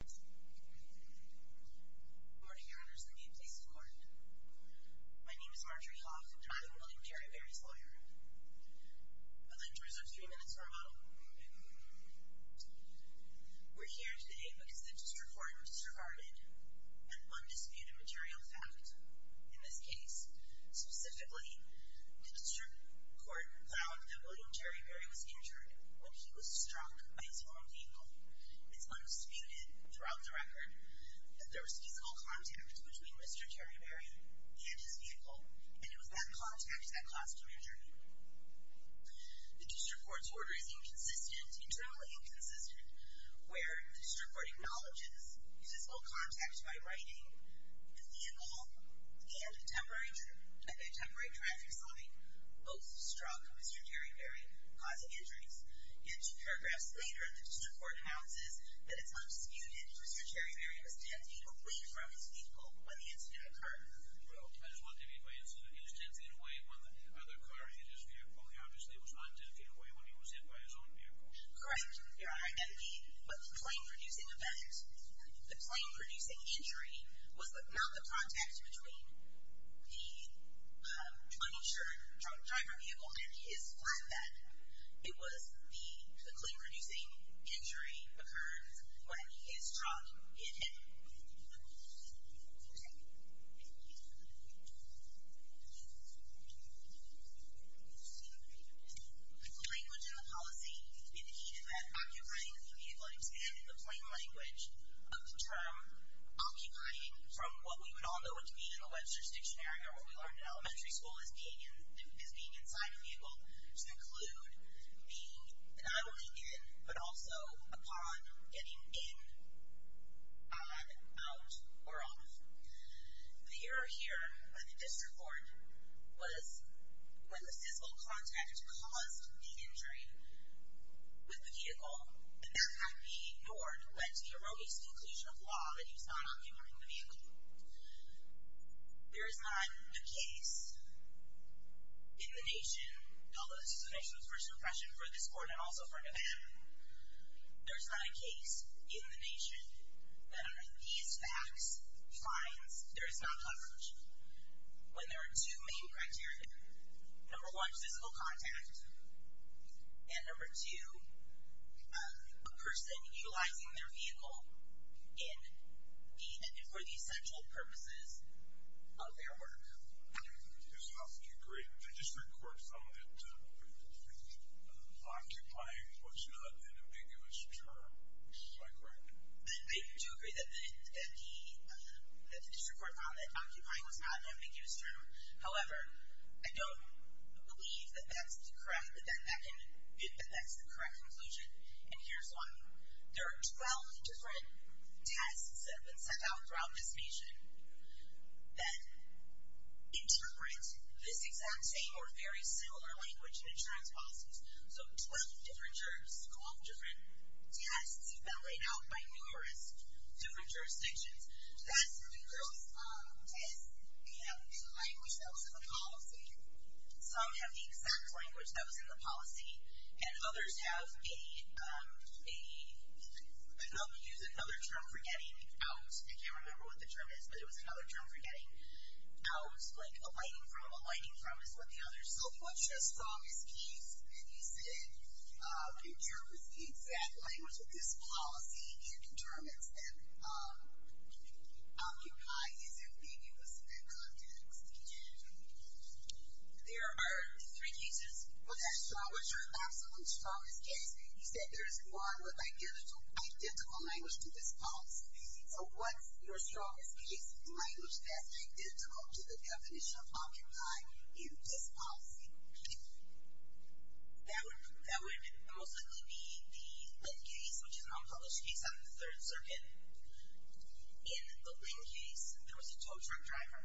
Good morning, Your Honors. The new place of court. My name is Marjorie Hoff, and I am William Terry Berry's lawyer. I'd like to reserve three minutes for a moment. We're here today because the district court disregarded an undisputed material fact. In this case, specifically, the district court found that William Terry Berry was injured when he was struck by his own vehicle. It's undisputed throughout the record that there was physical contact between Mr. Terry Berry and his vehicle, and it was that contact that caused him injury. The district court's order is inconsistent, internally inconsistent, where the district court acknowledges physical contact by writing the vehicle and the temporary traffic sign both struck Mr. Terry Berry, causing injuries. And two paragraphs later, the district court announces that it's undisputed that Mr. Terry Berry was ten feet away from his vehicle when the incident occurred. Well, I just want to be clear. He was ten feet away when the other car hit his vehicle. He obviously was not ten feet away when he was hit by his own vehicle. Correct, Your Honor. And the plane-producing event, the plane-producing injury, was not the contact between the uninsured drunk driver vehicle and his flatbed. It was the plane-producing injury occurrence when his truck hit him. The language in the policy indicated that occupying the vehicle and expanding the plane language of the term occupying, from what we would all know what to mean in the Web Search Dictionary or what we learned in elementary school as being inside a vehicle, to include being not only in, but also upon getting in, on, out, or off. The error here by the district court was when the physical contact caused the injury with the vehicle, that that might be in order to get to the erroneous conclusion of law that he was not occupying the vehicle. There is not a case in the nation, although this is the nation's first impression for this court and also for Nevada, there is not a case in the nation that under these facts finds there is not language when there are two main criteria. Number one, physical contact, and number two, a person utilizing their vehicle for the essential purposes of their work. Does the district court found that occupying was not an ambiguous term? I do agree that the district court found that occupying was not an ambiguous term. However, I don't believe that that's the correct conclusion, and here's why. There are 12 different tests that have been sent out throughout this nation that interpret this exact same or very similar language in insurance policies. So 12 different jurors, 12 different tests have been laid out by numerous different jurisdictions. That's because tests have the language that was in the policy. Some have the exact language that was in the policy, and others have a, I don't use another term for getting out. I can't remember what the term is, but it was another term for getting out, like aligning from, aligning from is what the others. So if what you just saw is case, and you said a juror with the exact language with this Occupy isn't ambiguous in that context. There are three cases. What's your absolute strongest case? You said there's one with identical language to this policy. So what's your strongest case language that's identical to the definition of occupy in this policy? That would most likely be the Linn case, which is an unpublished case out of the Third Circuit. In the Linn case, there was a tow truck driver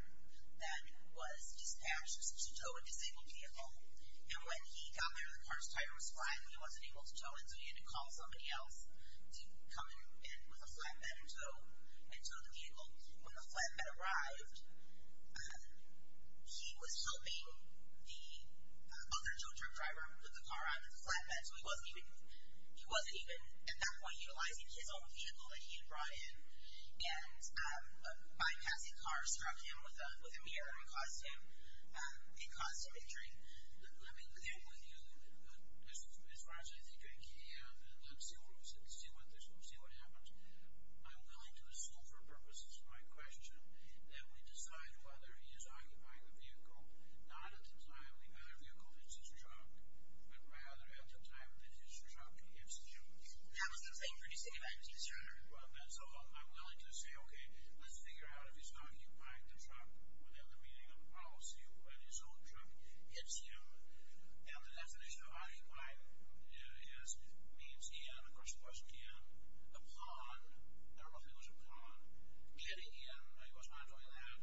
that was dispatched to tow a disabled vehicle, and when he got there, the car's tire was flat, and he wasn't able to tow it, so he had to call somebody else to come in with a flatbed and tow, and tow the vehicle. When the flatbed arrived, he was helping the other tow truck driver put the car out of the flatbed, so he wasn't even, he wasn't even at that point utilizing his own vehicle that he had brought in, and a bypassing car struck him with a mirror and caused him, it caused him injury. Let me, with you, as far as I think I can, and let's see what happens, I'm willing to ask my question, that we decide whether he is occupying the vehicle not at the time the other vehicle hits his truck, but rather at the time that his truck hits him. That was the thing for you to say, right? Well, that's all, I'm willing to say, okay, let's figure out if he's occupying the truck within the meaning of the policy when his own truck hits him, and the definition of upon, I don't know if it was upon, getting in, I was not doing that,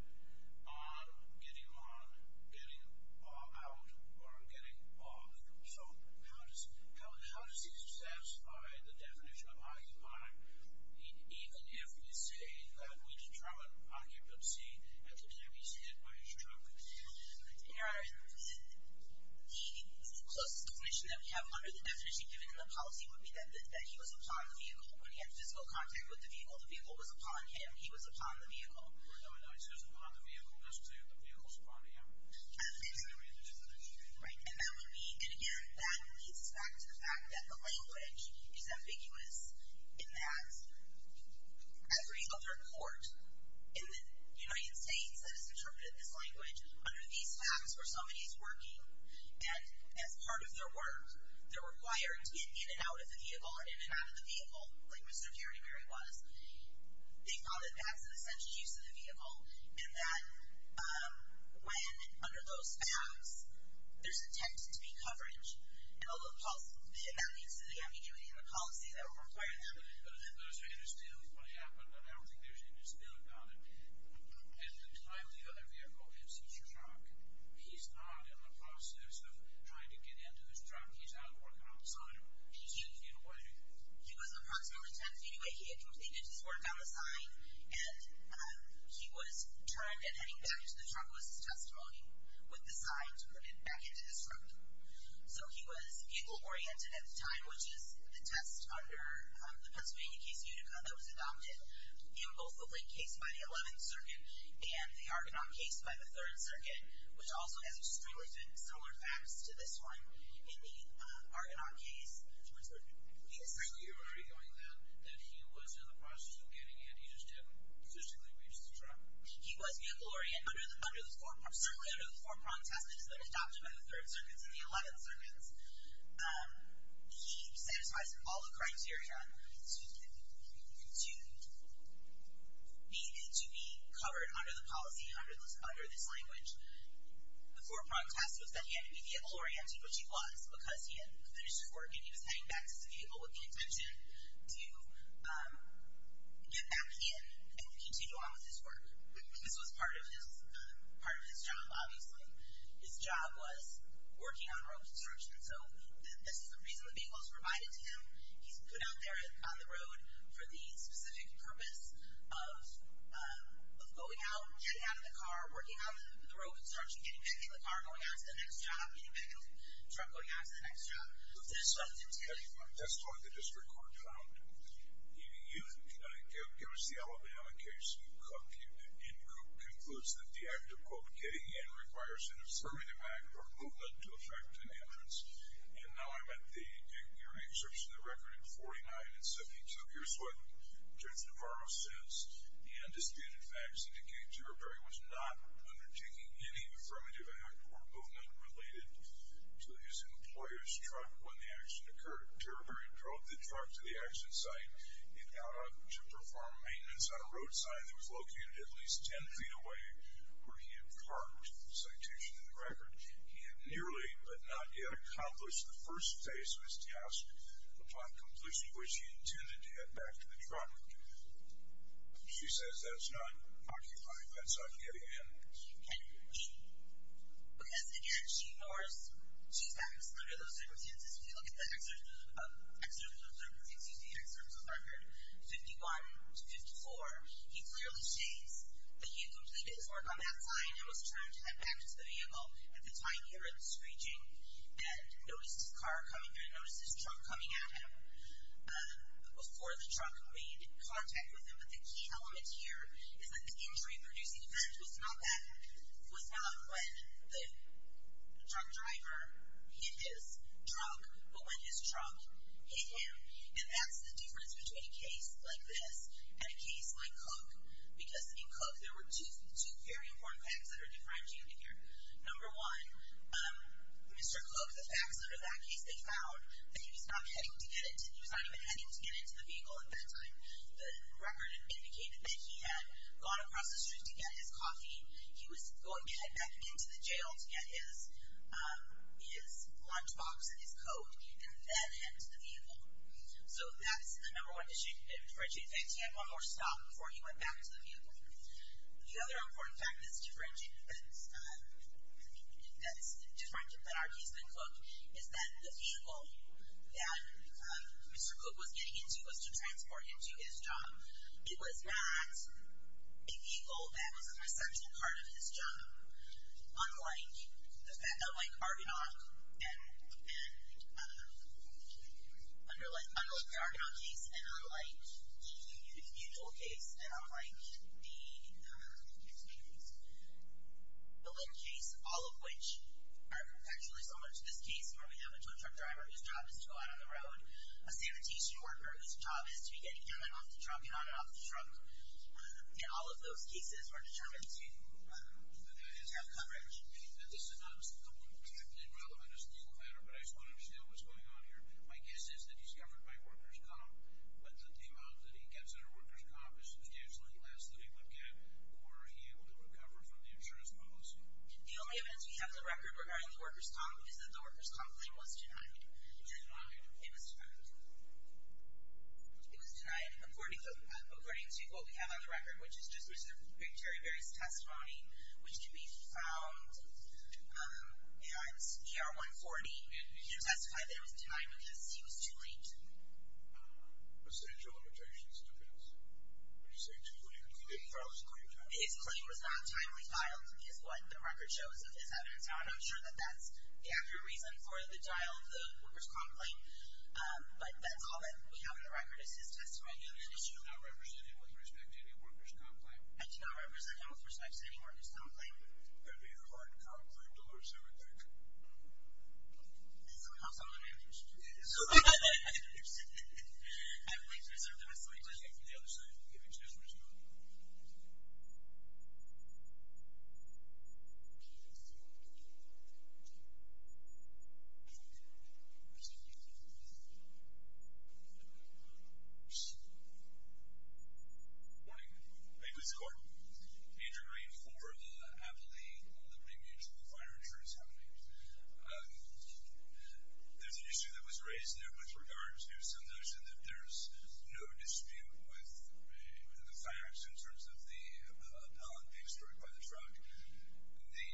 on, getting on, getting out, or getting off. So, how does he satisfy the definition of occupying, even if we say that we determine occupancy at the time he's hit by his truck? Your Honor, the closest definition that we have under the definition given in the policy would be that he was upon the vehicle. When he had physical contact with the vehicle, the vehicle was upon him. He was upon the vehicle. No, no, no, it says upon the vehicle. It doesn't say that the vehicle's upon him. Right, and that would be, and again, that leads us back to the fact that the language is ambiguous in that every other court in the United States that has interpreted this under these facts, where somebody's working, and as part of their work, they're required to get in and out of the vehicle, or in and out of the vehicle, like Mr. Gary Berry was, they thought that that's an essential use of the vehicle, and that when, under those facts, there's intended to be coverage, and that leads to the ambiguity in the policy that would require that. Those are interstitial, is what happened, and I don't think there's an interstitial about it. At the time the other vehicle hits his truck, he's not in the process of trying to get into his truck. He's out working on the sign. He's taking it away. He was approximately 10 feet away. He had completed his work on the sign, and he was turned, and heading back to the truck was his testimony, with the sign to put it back into his truck. So he was vehicle-oriented at the time, which is the test under the Pennsylvania case Unica that was adopted in both the Blake case by the 11th Circuit, and the Argonaut case by the 3rd Circuit, which also has extremely similar facts to this one in the Argonaut case. Mr. Berry, you were arguing then that he was in the process of getting in. He just hadn't physically reached the truck. He was vehicle-oriented. Certainly under the four-prong test that has been adopted by the 3rd Circuits and the 11th to be covered under the policy, under this language, the four-prong test was that he had to be vehicle-oriented, which he was, because he had finished his work, and he was heading back to his vehicle with the intention to get back in and continue on with his work. This was part of his job, obviously. His job was working on road construction. So this is the reason the vehicle was provided to him. He's put out there on the road for the specific purpose of going out, getting out of the car, working on the road construction, getting back in the car, going out to the next job, getting back in the truck, going out to the next job. That's what the district court found. You give us the Alabama case, Unica. It concludes that the act of, quote, getting in requires an affirmative act or movement to effect an entrance. And now I'm at your excerpts from the record at 49, and so here's what Judge Navarro says. The undisputed facts indicate that Terriberry was not undertaking any affirmative act or movement related to his employer's truck when the accident occurred. Terriberry drove the truck to the accident site and got up to perform maintenance on a road sign that was located at least 10 feet away where he had parked, the citation in the record. He had nearly but not yet accomplished the first phase of his task upon completion, which he intended to head back to the truck. She says that's not occupying, that's not getting in. Because, again, she ignores, she's not excluded under those circumstances. If you look at the excerpts of the record, 51 to 54, he clearly states that he had completed his work on that sign and was trying to head back to the vehicle at the time he heard the screeching and noticed his car coming through and noticed his truck coming at him before the truck made contact with him. But the key element here is that the injury-producing event was not when the truck driver hit his truck but when his truck hit him. And that's the difference between a case like this and a case like Cook. Because in Cook, there were two very important facts that are differentiated here. Number one, Mr. Cook, the facts under that case, they found that he was not heading to get into, he was not even heading to get into the vehicle at that time. The record indicated that he had gone across the street to get his coffee, he was going to head back into the jail to get his lunch box and his coat, and then head to the vehicle. So that's the number one differentiated fact. He had one more stop before he went back to the vehicle. The other important fact that's differentiated, that's different than our case than Cook, is that the vehicle that Mr. Cook was getting into was to transport him to his job. It was not a vehicle that was an essential part of his job. Unlike the Argonaut case, and unlike the Mutual case, and unlike the Lynn case, all of which are perpetually similar to this case where we have a tow truck driver whose job is to go out on the road, a sanitation worker whose job is to be getting in and off the truck and all of those cases are determined to have coverage. This is not technically relevant as a legal matter, but I just want to understand what's going on here. My guess is that he's covered by workers' comp, but that the amount that he gets under workers' comp is substantially less than he would get were he able to recover from the insurance policy. The only evidence we have of the record regarding the workers' comp is that the workers' comp claim was denied. It was denied? It was denied. It was denied. According to what we have on the record, which is just the big Terry Berry's testimony, which can be found at ER 140, he testified that it was denied because he was too late. Substantial limitations, it depends. When you say too late, he didn't file his claim timely. His claim was not timely filed is what the record shows of this evidence. I'm not sure that that's the accurate reason for the denial of the workers' comp claim, but that's all that we have on the record is his testimony. You do not represent him with respect to any workers' comp claim? I do not represent him with respect to any workers' comp claim. It would be a hard comp claim to lose everything. This will help some of the managers. I would like to reserve the rest of my time. The other side, if it's necessary. Thank you. Good morning. May it please the court. Andrew Green for Appley Liberty Mutual Fire Insurance Company. There's an issue that was raised there with regards to some notion that there's no dispute with the facts in terms of the pallet being destroyed by the truck. The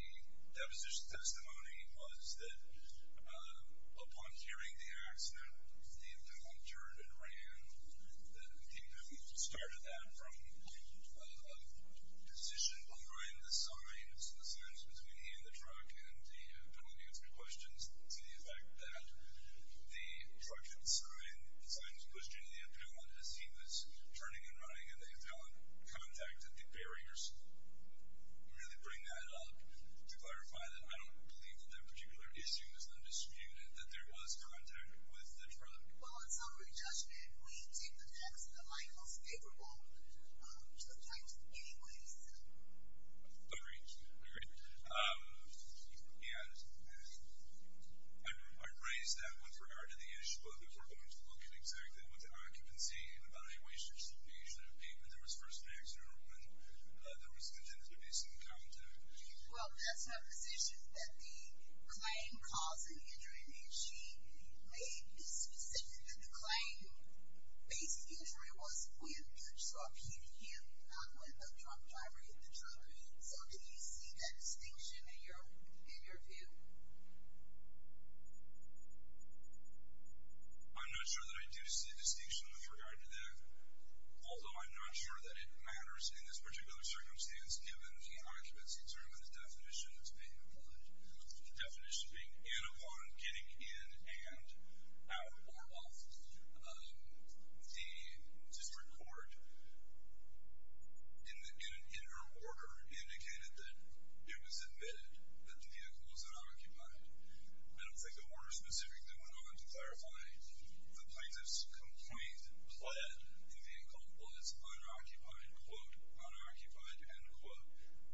deposition testimony was that upon hearing the accident, the appellant turned and ran. The appellant started that from a position behind the signs, the signs between he and the truck, and the appellant answered questions to the effect that the truck had signed, the signs pushed into the appellant as he was turning and running, and the appellant contacted the barriers. Can you really bring that up to clarify that I don't believe that that particular issue is undisputed, that there was contact with the truck? Well, in summary judgment, we take the facts in the light of what's favorable, sometimes in many ways. Agreed. Agreed. I raised that with regard to the issue of if we're going to look at exactly what the occupancy evaluation should be, should it be when there was first an accident, or when there was intended to be some contact? Well, that's her position, that the claim causing injury, and she made this decision that the claim-based injury was with the truck hitting him, not with the truck driving the truck. So, do you see that distinction in your view? I'm not sure that I do see a distinction with regard to that, although I'm not sure that it matters in this particular circumstance, given the occupancy term and the definition that's being applied. The definition being in upon getting in and out or off. The district court, in her order, indicated that it was admitted that the vehicle was unoccupied. I don't think the order specifically went on to clarify. The plaintiff's complaint pled that the vehicle was unoccupied, quote, unoccupied, end quote.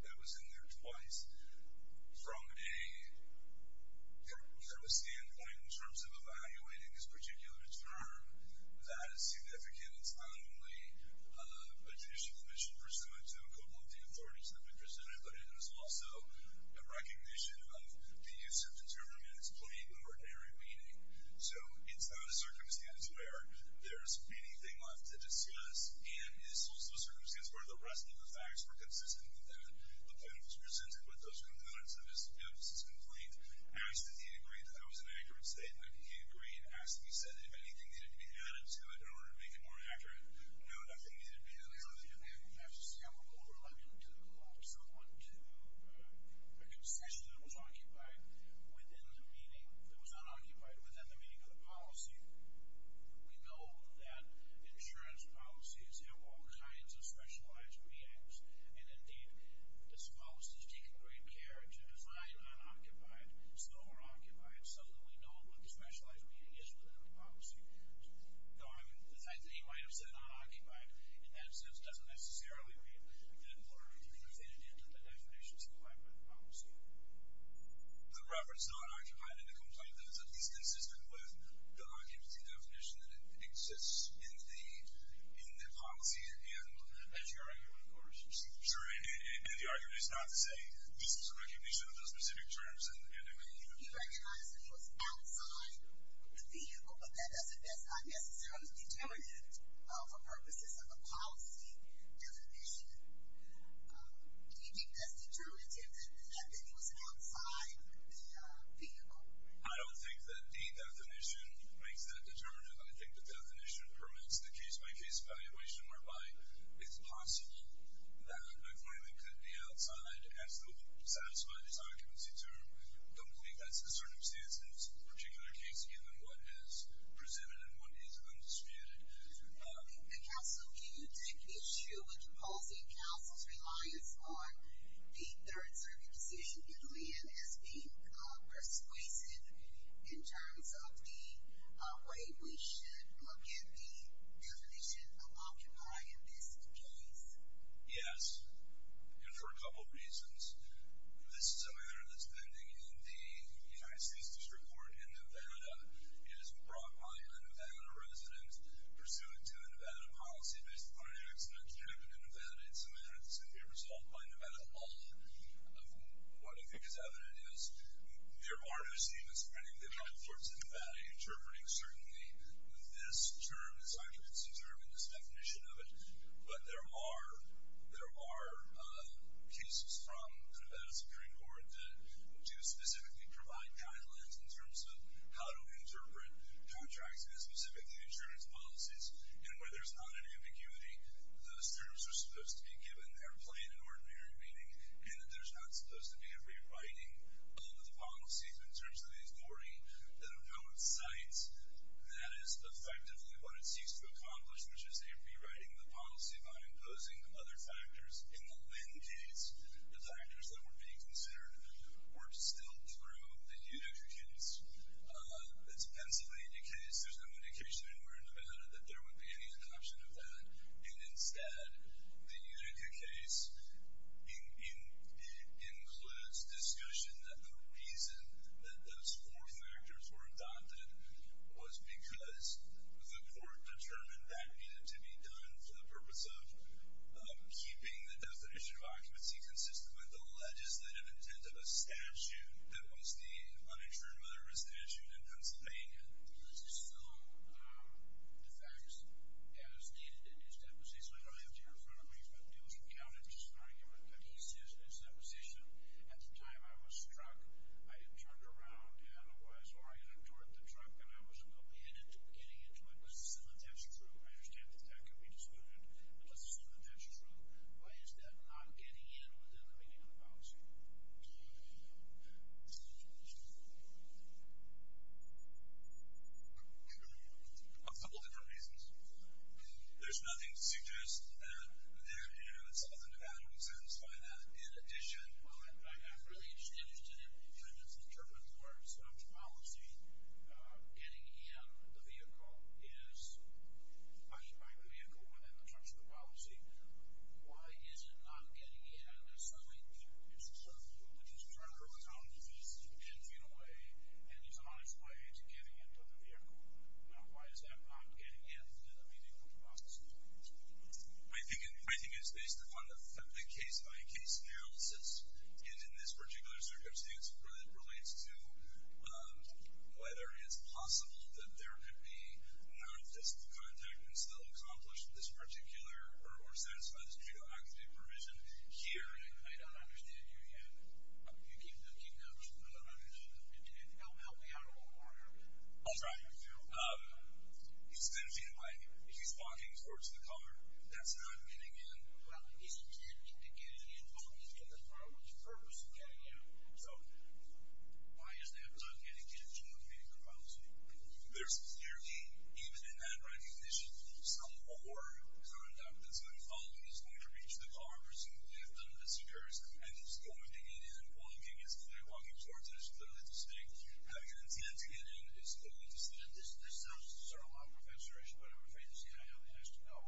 That was in there twice. From a kind of a standpoint in terms of evaluating this particular term, that is significant. It's not only additional admission pursuant to a couple of the authorities that were presented, but it is also a recognition of the use of the term in its plain and ordinary meaning. So, it's not a circumstance where there's anything left to discuss, and it's also a circumstance where the rest of the facts were consistent with that. The plaintiff was presented with those components of his complaint, asked if he agreed that that was an accurate statement. He agreed. Asked if he said if anything needed to be added to it in order to make it more accurate. No, nothing needed to be added to it. We have to say I'm a little reluctant to quote someone to a concession that was occupied within the meaning, that was unoccupied, within the meaning of the policy. We know that insurance policies have all kinds of specialized means, and, indeed, this policy is taken great care to define unoccupied, still unoccupied, so that we know what the specialized meaning is within the policy. No, I mean, the fact that he might have said unoccupied, in that sense, doesn't necessarily mean that it weren't included in the definitions of the Whitewood policy. The reference to unoccupied in the complaint, though, is at least consistent with the occupancy definition that exists in the policy and the argument, of course. Sure, and the argument is not to say this is a recognition of those specific terms and the meaning of the policy. He recognized that he was outside the vehicle, but that doesn't mean that's not necessarily determinative for purposes of a policy definition. Do you think that's determinative that he was outside the vehicle? I don't think that the definition makes that determinative. I think the definition permits the case-by-case evaluation whereby it's possible that a claimant could be outside as to satisfy this occupancy term. I don't believe that's the circumstance in this particular case, given what is presumed and what is undisputed. Counsel, can you take issue with imposing counsel's reliance on the Third Circuit decision in Lee and as being persuasive in terms of the way we should look at the definition of occupied in this case? Yes, and for a couple of reasons. This is a matter that's pending in the United States District Court in Nevada. It is brought by a Nevada resident pursuant to a Nevada policy based upon an accident that happened in Nevada. It's a matter that's going to be resolved by Nevada law. What I think is evident is there are no statements of any of the other courts in Nevada interpreting certainly this term, this occupancy term and this definition of it, but there are cases from the Nevada Supreme Court that do specifically provide guidelines in terms of how to interpret contracts and specifically insurance policies. And where there's not an ambiguity, those terms are supposed to be given their plain and ordinary meaning and that there's not supposed to be a rewriting of the policies in terms of the authority that opposes sites. That is effectively what it seeks to accomplish, which is a rewriting of the policy by imposing other factors. In the Lynn case, the factors that were being considered were still through the Unica case. It's a Pennsylvania case. There's no indication anywhere in Nevada that there would be any adoption of that. And instead, the Unica case includes discussion that the reason that those four factors were adopted was because the court determined that needed to be done for the purpose of keeping the definition of occupancy consistent with the legislative intent of a statute that was the uninsured motherhood statute in Pennsylvania. Does this fill the facts as stated in his deposition? I don't have to hear it from everybody, but it was recounted as just an argument, but he says in his deposition, at the time I was struck, I had turned around and was oriented toward the truck, and I was getting into it. I understand that that can be disputed, but just assume that that's true. Why is that not getting in with the rewriting of the policy? A couple of different reasons. There's nothing to suggest that some of the Nevada would satisfy that. In addition, well, I'm really just interested in, in terms of our subpolicy, getting in the vehicle is pushing back the vehicle within the trucks of the policy. Why is it not getting in, assuming it's a certain group that is currently on the vehicle, 10 feet away, and is on its way to getting into the vehicle? Now, why is that not getting in to the vehicle policy? I think it's based upon the case-by-case analysis, and in this particular circumstance, where it relates to whether it's possible that there could be non-office contactments that will accomplish this particular, or satisfy this particular activity provision here. I don't understand you yet. You keep, keep going. Help me out of the corner. Oh, sorry. He's 10 feet away. He's walking towards the car. That's not getting in. Well, he's intended to get in only to the car. What's the purpose of getting in? So, why is that not getting into the vehicle policy? There's clearly, even in that recognition, some core conduct that's going to follow. He's going to reach the car, presumably if none of this occurs, and he's going to get in, walking, he's clearly walking towards it. It's clearly distinct. Having an intent to get in is clearly distinct. This sounds sort of law professor-ish, but I'm afraid to say I have the answer. No,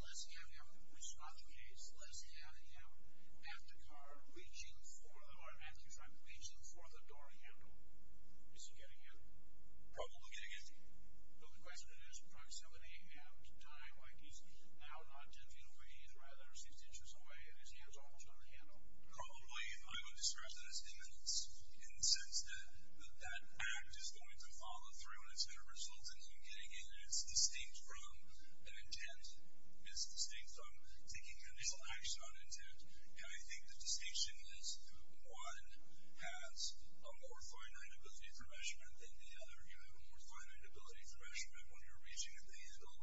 let's have him, which is not the case, let's have him at the car reaching for the door handle. Is he getting in? Probably getting in. But the question is, does somebody have time, like he's now not 10 feet away, he's rather 60 inches away, and his hand's almost on the handle? Probably, I would describe that as imminence, in the sense that that act is going to follow through, and it's going to result in him getting in. It's distinct from an intent. It's distinct from taking an action on intent. And I think the distinction is, one has a more finite ability for measurement than the other. You have a more finite ability for measurement when you're reaching at the handle,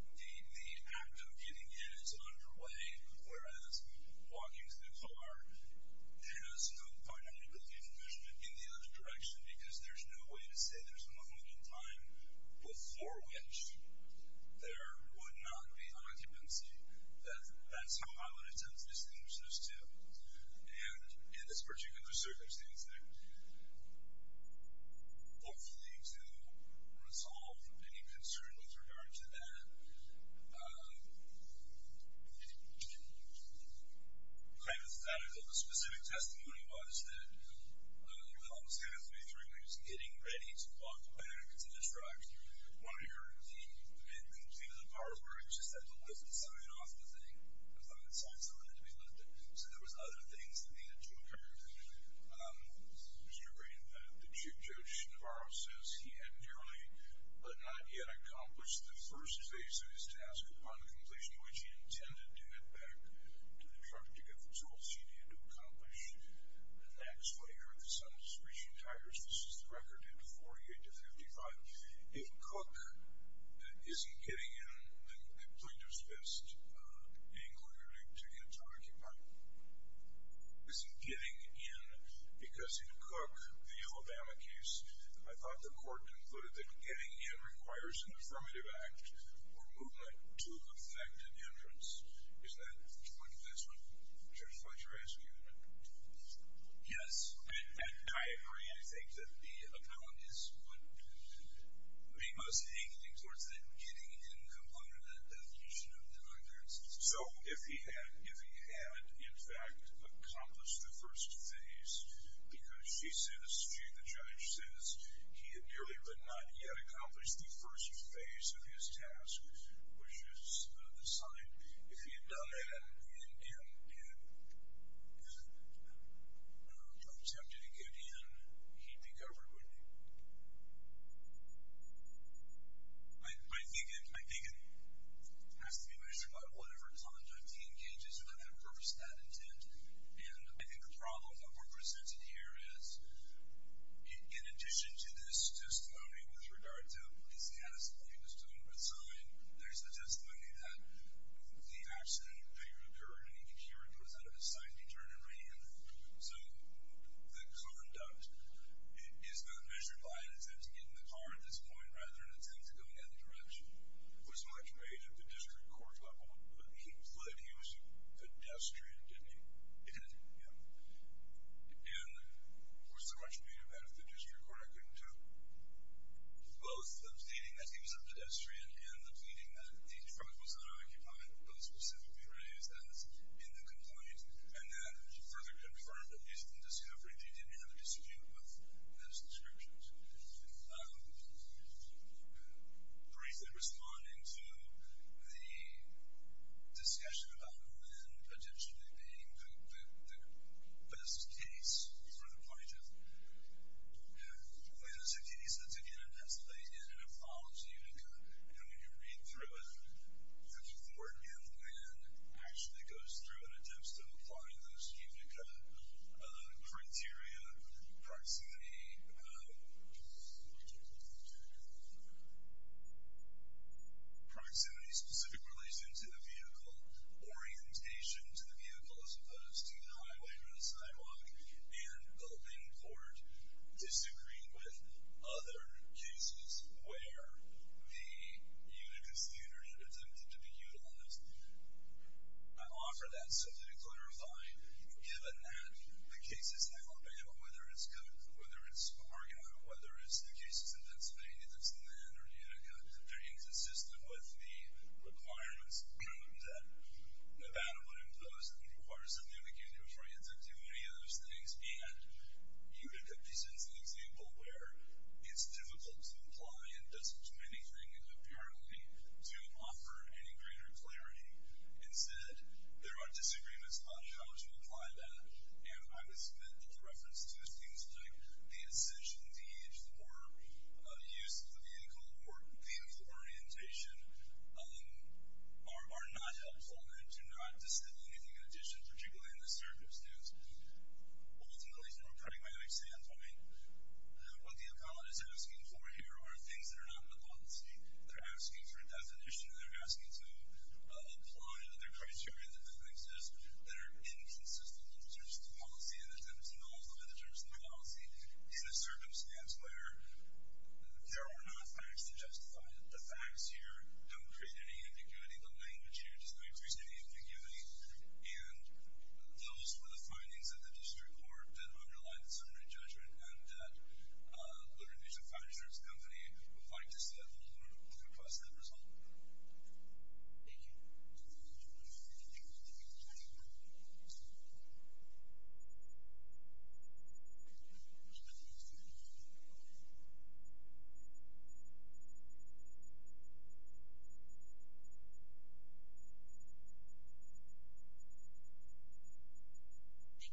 and the act of getting in is underway, whereas walking to the car has no finite ability for measurement in the other direction, because there's no way to say there's a moment in time before which there would not be occupancy. That's how I would attempt to distinguish those two. And in this particular circumstance, hopefully to resolve any concern with regard to that, kind of statical, the specific testimony was that the helmsman at 33 was getting ready to walk away to distract one of the guards. He had completed a part where he just had to lift the sign off the thing. It was on the side sign to be lifted. So there was other things that needed to occur. Mr. Green, the Chief Judge Navarro says he had nearly, but not yet accomplished, the first phase of his task upon completion, which he intended to head back to the truck to get the tools he needed to accomplish the next layer. The sun is reaching higher. This is the record at 48 to 55. If Cook isn't getting in, then the plaintiff's best angle, to get into an argument, isn't getting in because in Cook, the Alabama case, I thought the court concluded that getting in requires an affirmative act or movement to effect an inference. Is that what Judge Fletcher asked you to do? Yes. And I agree. I think that the appellant is what be most angling towards that getting in component of that definition of an inference. So if he had, in fact, accomplished the first phase, because she says, the judge says, he had nearly, but not yet accomplished, the first phase of his task, which is the sign. If he had done that and attempted to get in, he'd be covered, wouldn't he? I think it has to be measured by whatever conduct he engages in that they've purposed that intent. And I think the problem that we're presented here is, in addition to this testimony with regard to his catastrophe, his total resign, there's the testimony that the accident occurred, and even here it goes out of his sight. He turned and ran. So the conduct is not measured by an attempt to get in the car at this point, rather an attempt to go in the other direction. It was much made at the district court level. But he fled. He was a pedestrian, didn't he? He did. Yeah. And was there much made of that at the district court? I couldn't tell. Both the pleading that he was a pedestrian and the pleading that the truck was unoccupied, both specifically raised as in the complaint. And then further confirmed, at least in discovery, that he didn't have a dispute with those descriptions. Briefly responding to the discussion about Lynn potentially being the best case for the plaintiff, Lynn is a case that's, again, it has laid in and it follows UNICA. And when you read through it, the court in Lynn actually goes through and attempts to apply those UNICA criteria, proximity specific relation to the vehicle, orientation to the vehicle as opposed to the highway or the sidewalk. And the Lynn court disagreed with other cases where the UNICA standard had attempted to be utilized. I offer that simply to clarify, given that the cases in Alabama, whether it's Cook, whether it's Argonne, whether it's the cases in Pennsylvania that's in Lynn or UNICA, they're inconsistent with the requirements that Nevada would impose and would require something of a union for you to do any of those things. and doesn't do anything, apparently, to offer any greater clarity. Instead, there are disagreements on how to apply that. And I would submit that the reference to things like the essential needs for use of the vehicle or vehicle orientation are not helpful and do not distill anything in addition, particularly in this circumstance. Ultimately, from a pragmatic standpoint, what the appellate is asking for here are things that are not in the policy. They're asking for a definition. They're asking to apply other criteria that don't exist that are inconsistent in terms of the policy and attempt to nullify the terms of the policy in a circumstance where there are no facts to justify it. The facts here don't create any ambiguity. The language here does not increase any ambiguity. And those were the findings of the district court that underlined the summary judgment and that the revision five-year service company provided us with a little more than a few plus numbers. Thank you. Thank you,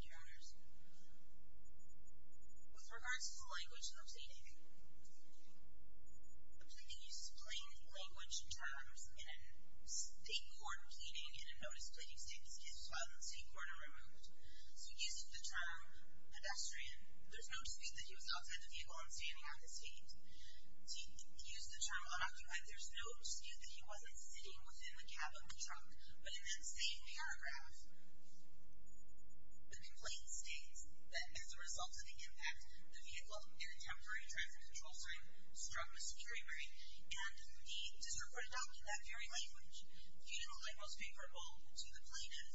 Your Honors. With regards to the language in the proceeding, the proceeding uses plain language terms in a state court pleading in a notice pleading state that's filed in the state court and removed. So using the term pedestrian, there's no dispute that he was outside the vehicle and standing on the street. To use the term unoccupied, there's no dispute that he wasn't sitting within the cab of the truck. But in that same paragraph, the complaint states that as a result of the impact, the vehicle in a temporary traffic control sign struck a security break. And the district court adopted that very language, being the one most favorable to the plaintiff.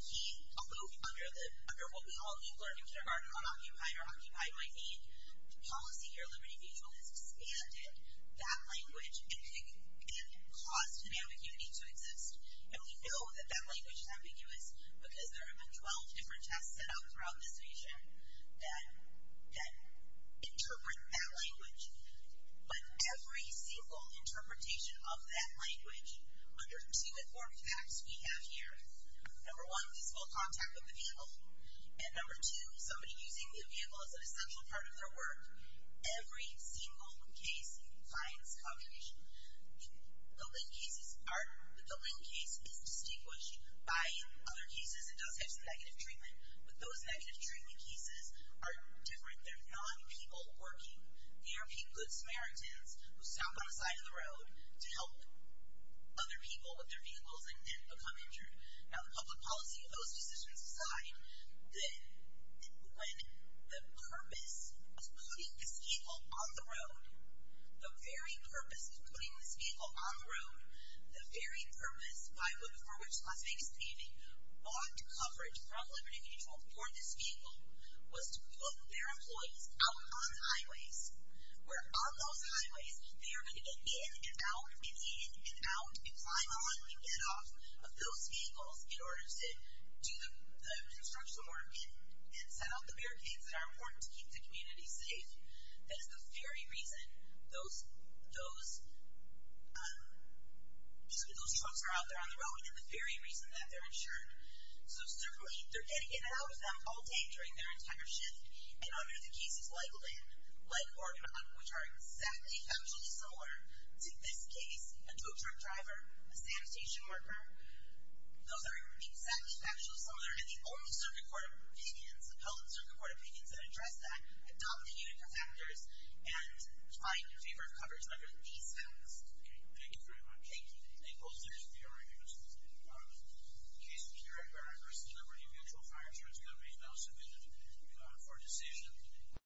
He alluded under what we all learned in kindergarten unoccupied or occupied might mean. The policy here, Liberty Mutual, has expanded that language and caused an ambiguity to exist. And we know that that language is ambiguous because there have been 12 different tests set out throughout this region that interpret that language. But every single interpretation of that language under two informed facts we have here. Number one, visible contact with the vehicle. And number two, somebody using the vehicle as an essential part of their work. Every single case finds communication. The Lynn case is distinguished by other cases and does have some negative treatment. But those negative treatment cases are different. They're non-people working. They are people with Samaritans who stop on the side of the road to help other people with their vehicles and become injured. Now the public policy of those decisions decide that when the purpose of putting this vehicle on the road, the very purpose of putting this vehicle on the road, the very purpose for which Las Vegas County bought coverage from Liberty Mutual for this vehicle was to put their employees out on the highways where on those highways they are going to get in and out and in and out and climb on and get off of those vehicles in order to do the construction work and set out the barricades that are important to keep the community safe. That is the very reason those trucks are out there on the road and the very reason that they're insured. So certainly they're getting in and out of them all day during their entire shift. And under the cases like Lynn, like Oregon, which are exactly factually similar to this case, a two-truck driver, a sanitation worker, those are exactly factually similar. And the only circuit court opinions, the public circuit court opinions that address that adopt the unit for factors and find in favor of coverage under these facts. Thank you very much. Thank you. Thank you. Those are the three arguments in the case. The case in the third argument is that Liberty Mutual Fire Insurance Company is not sufficient for a decision.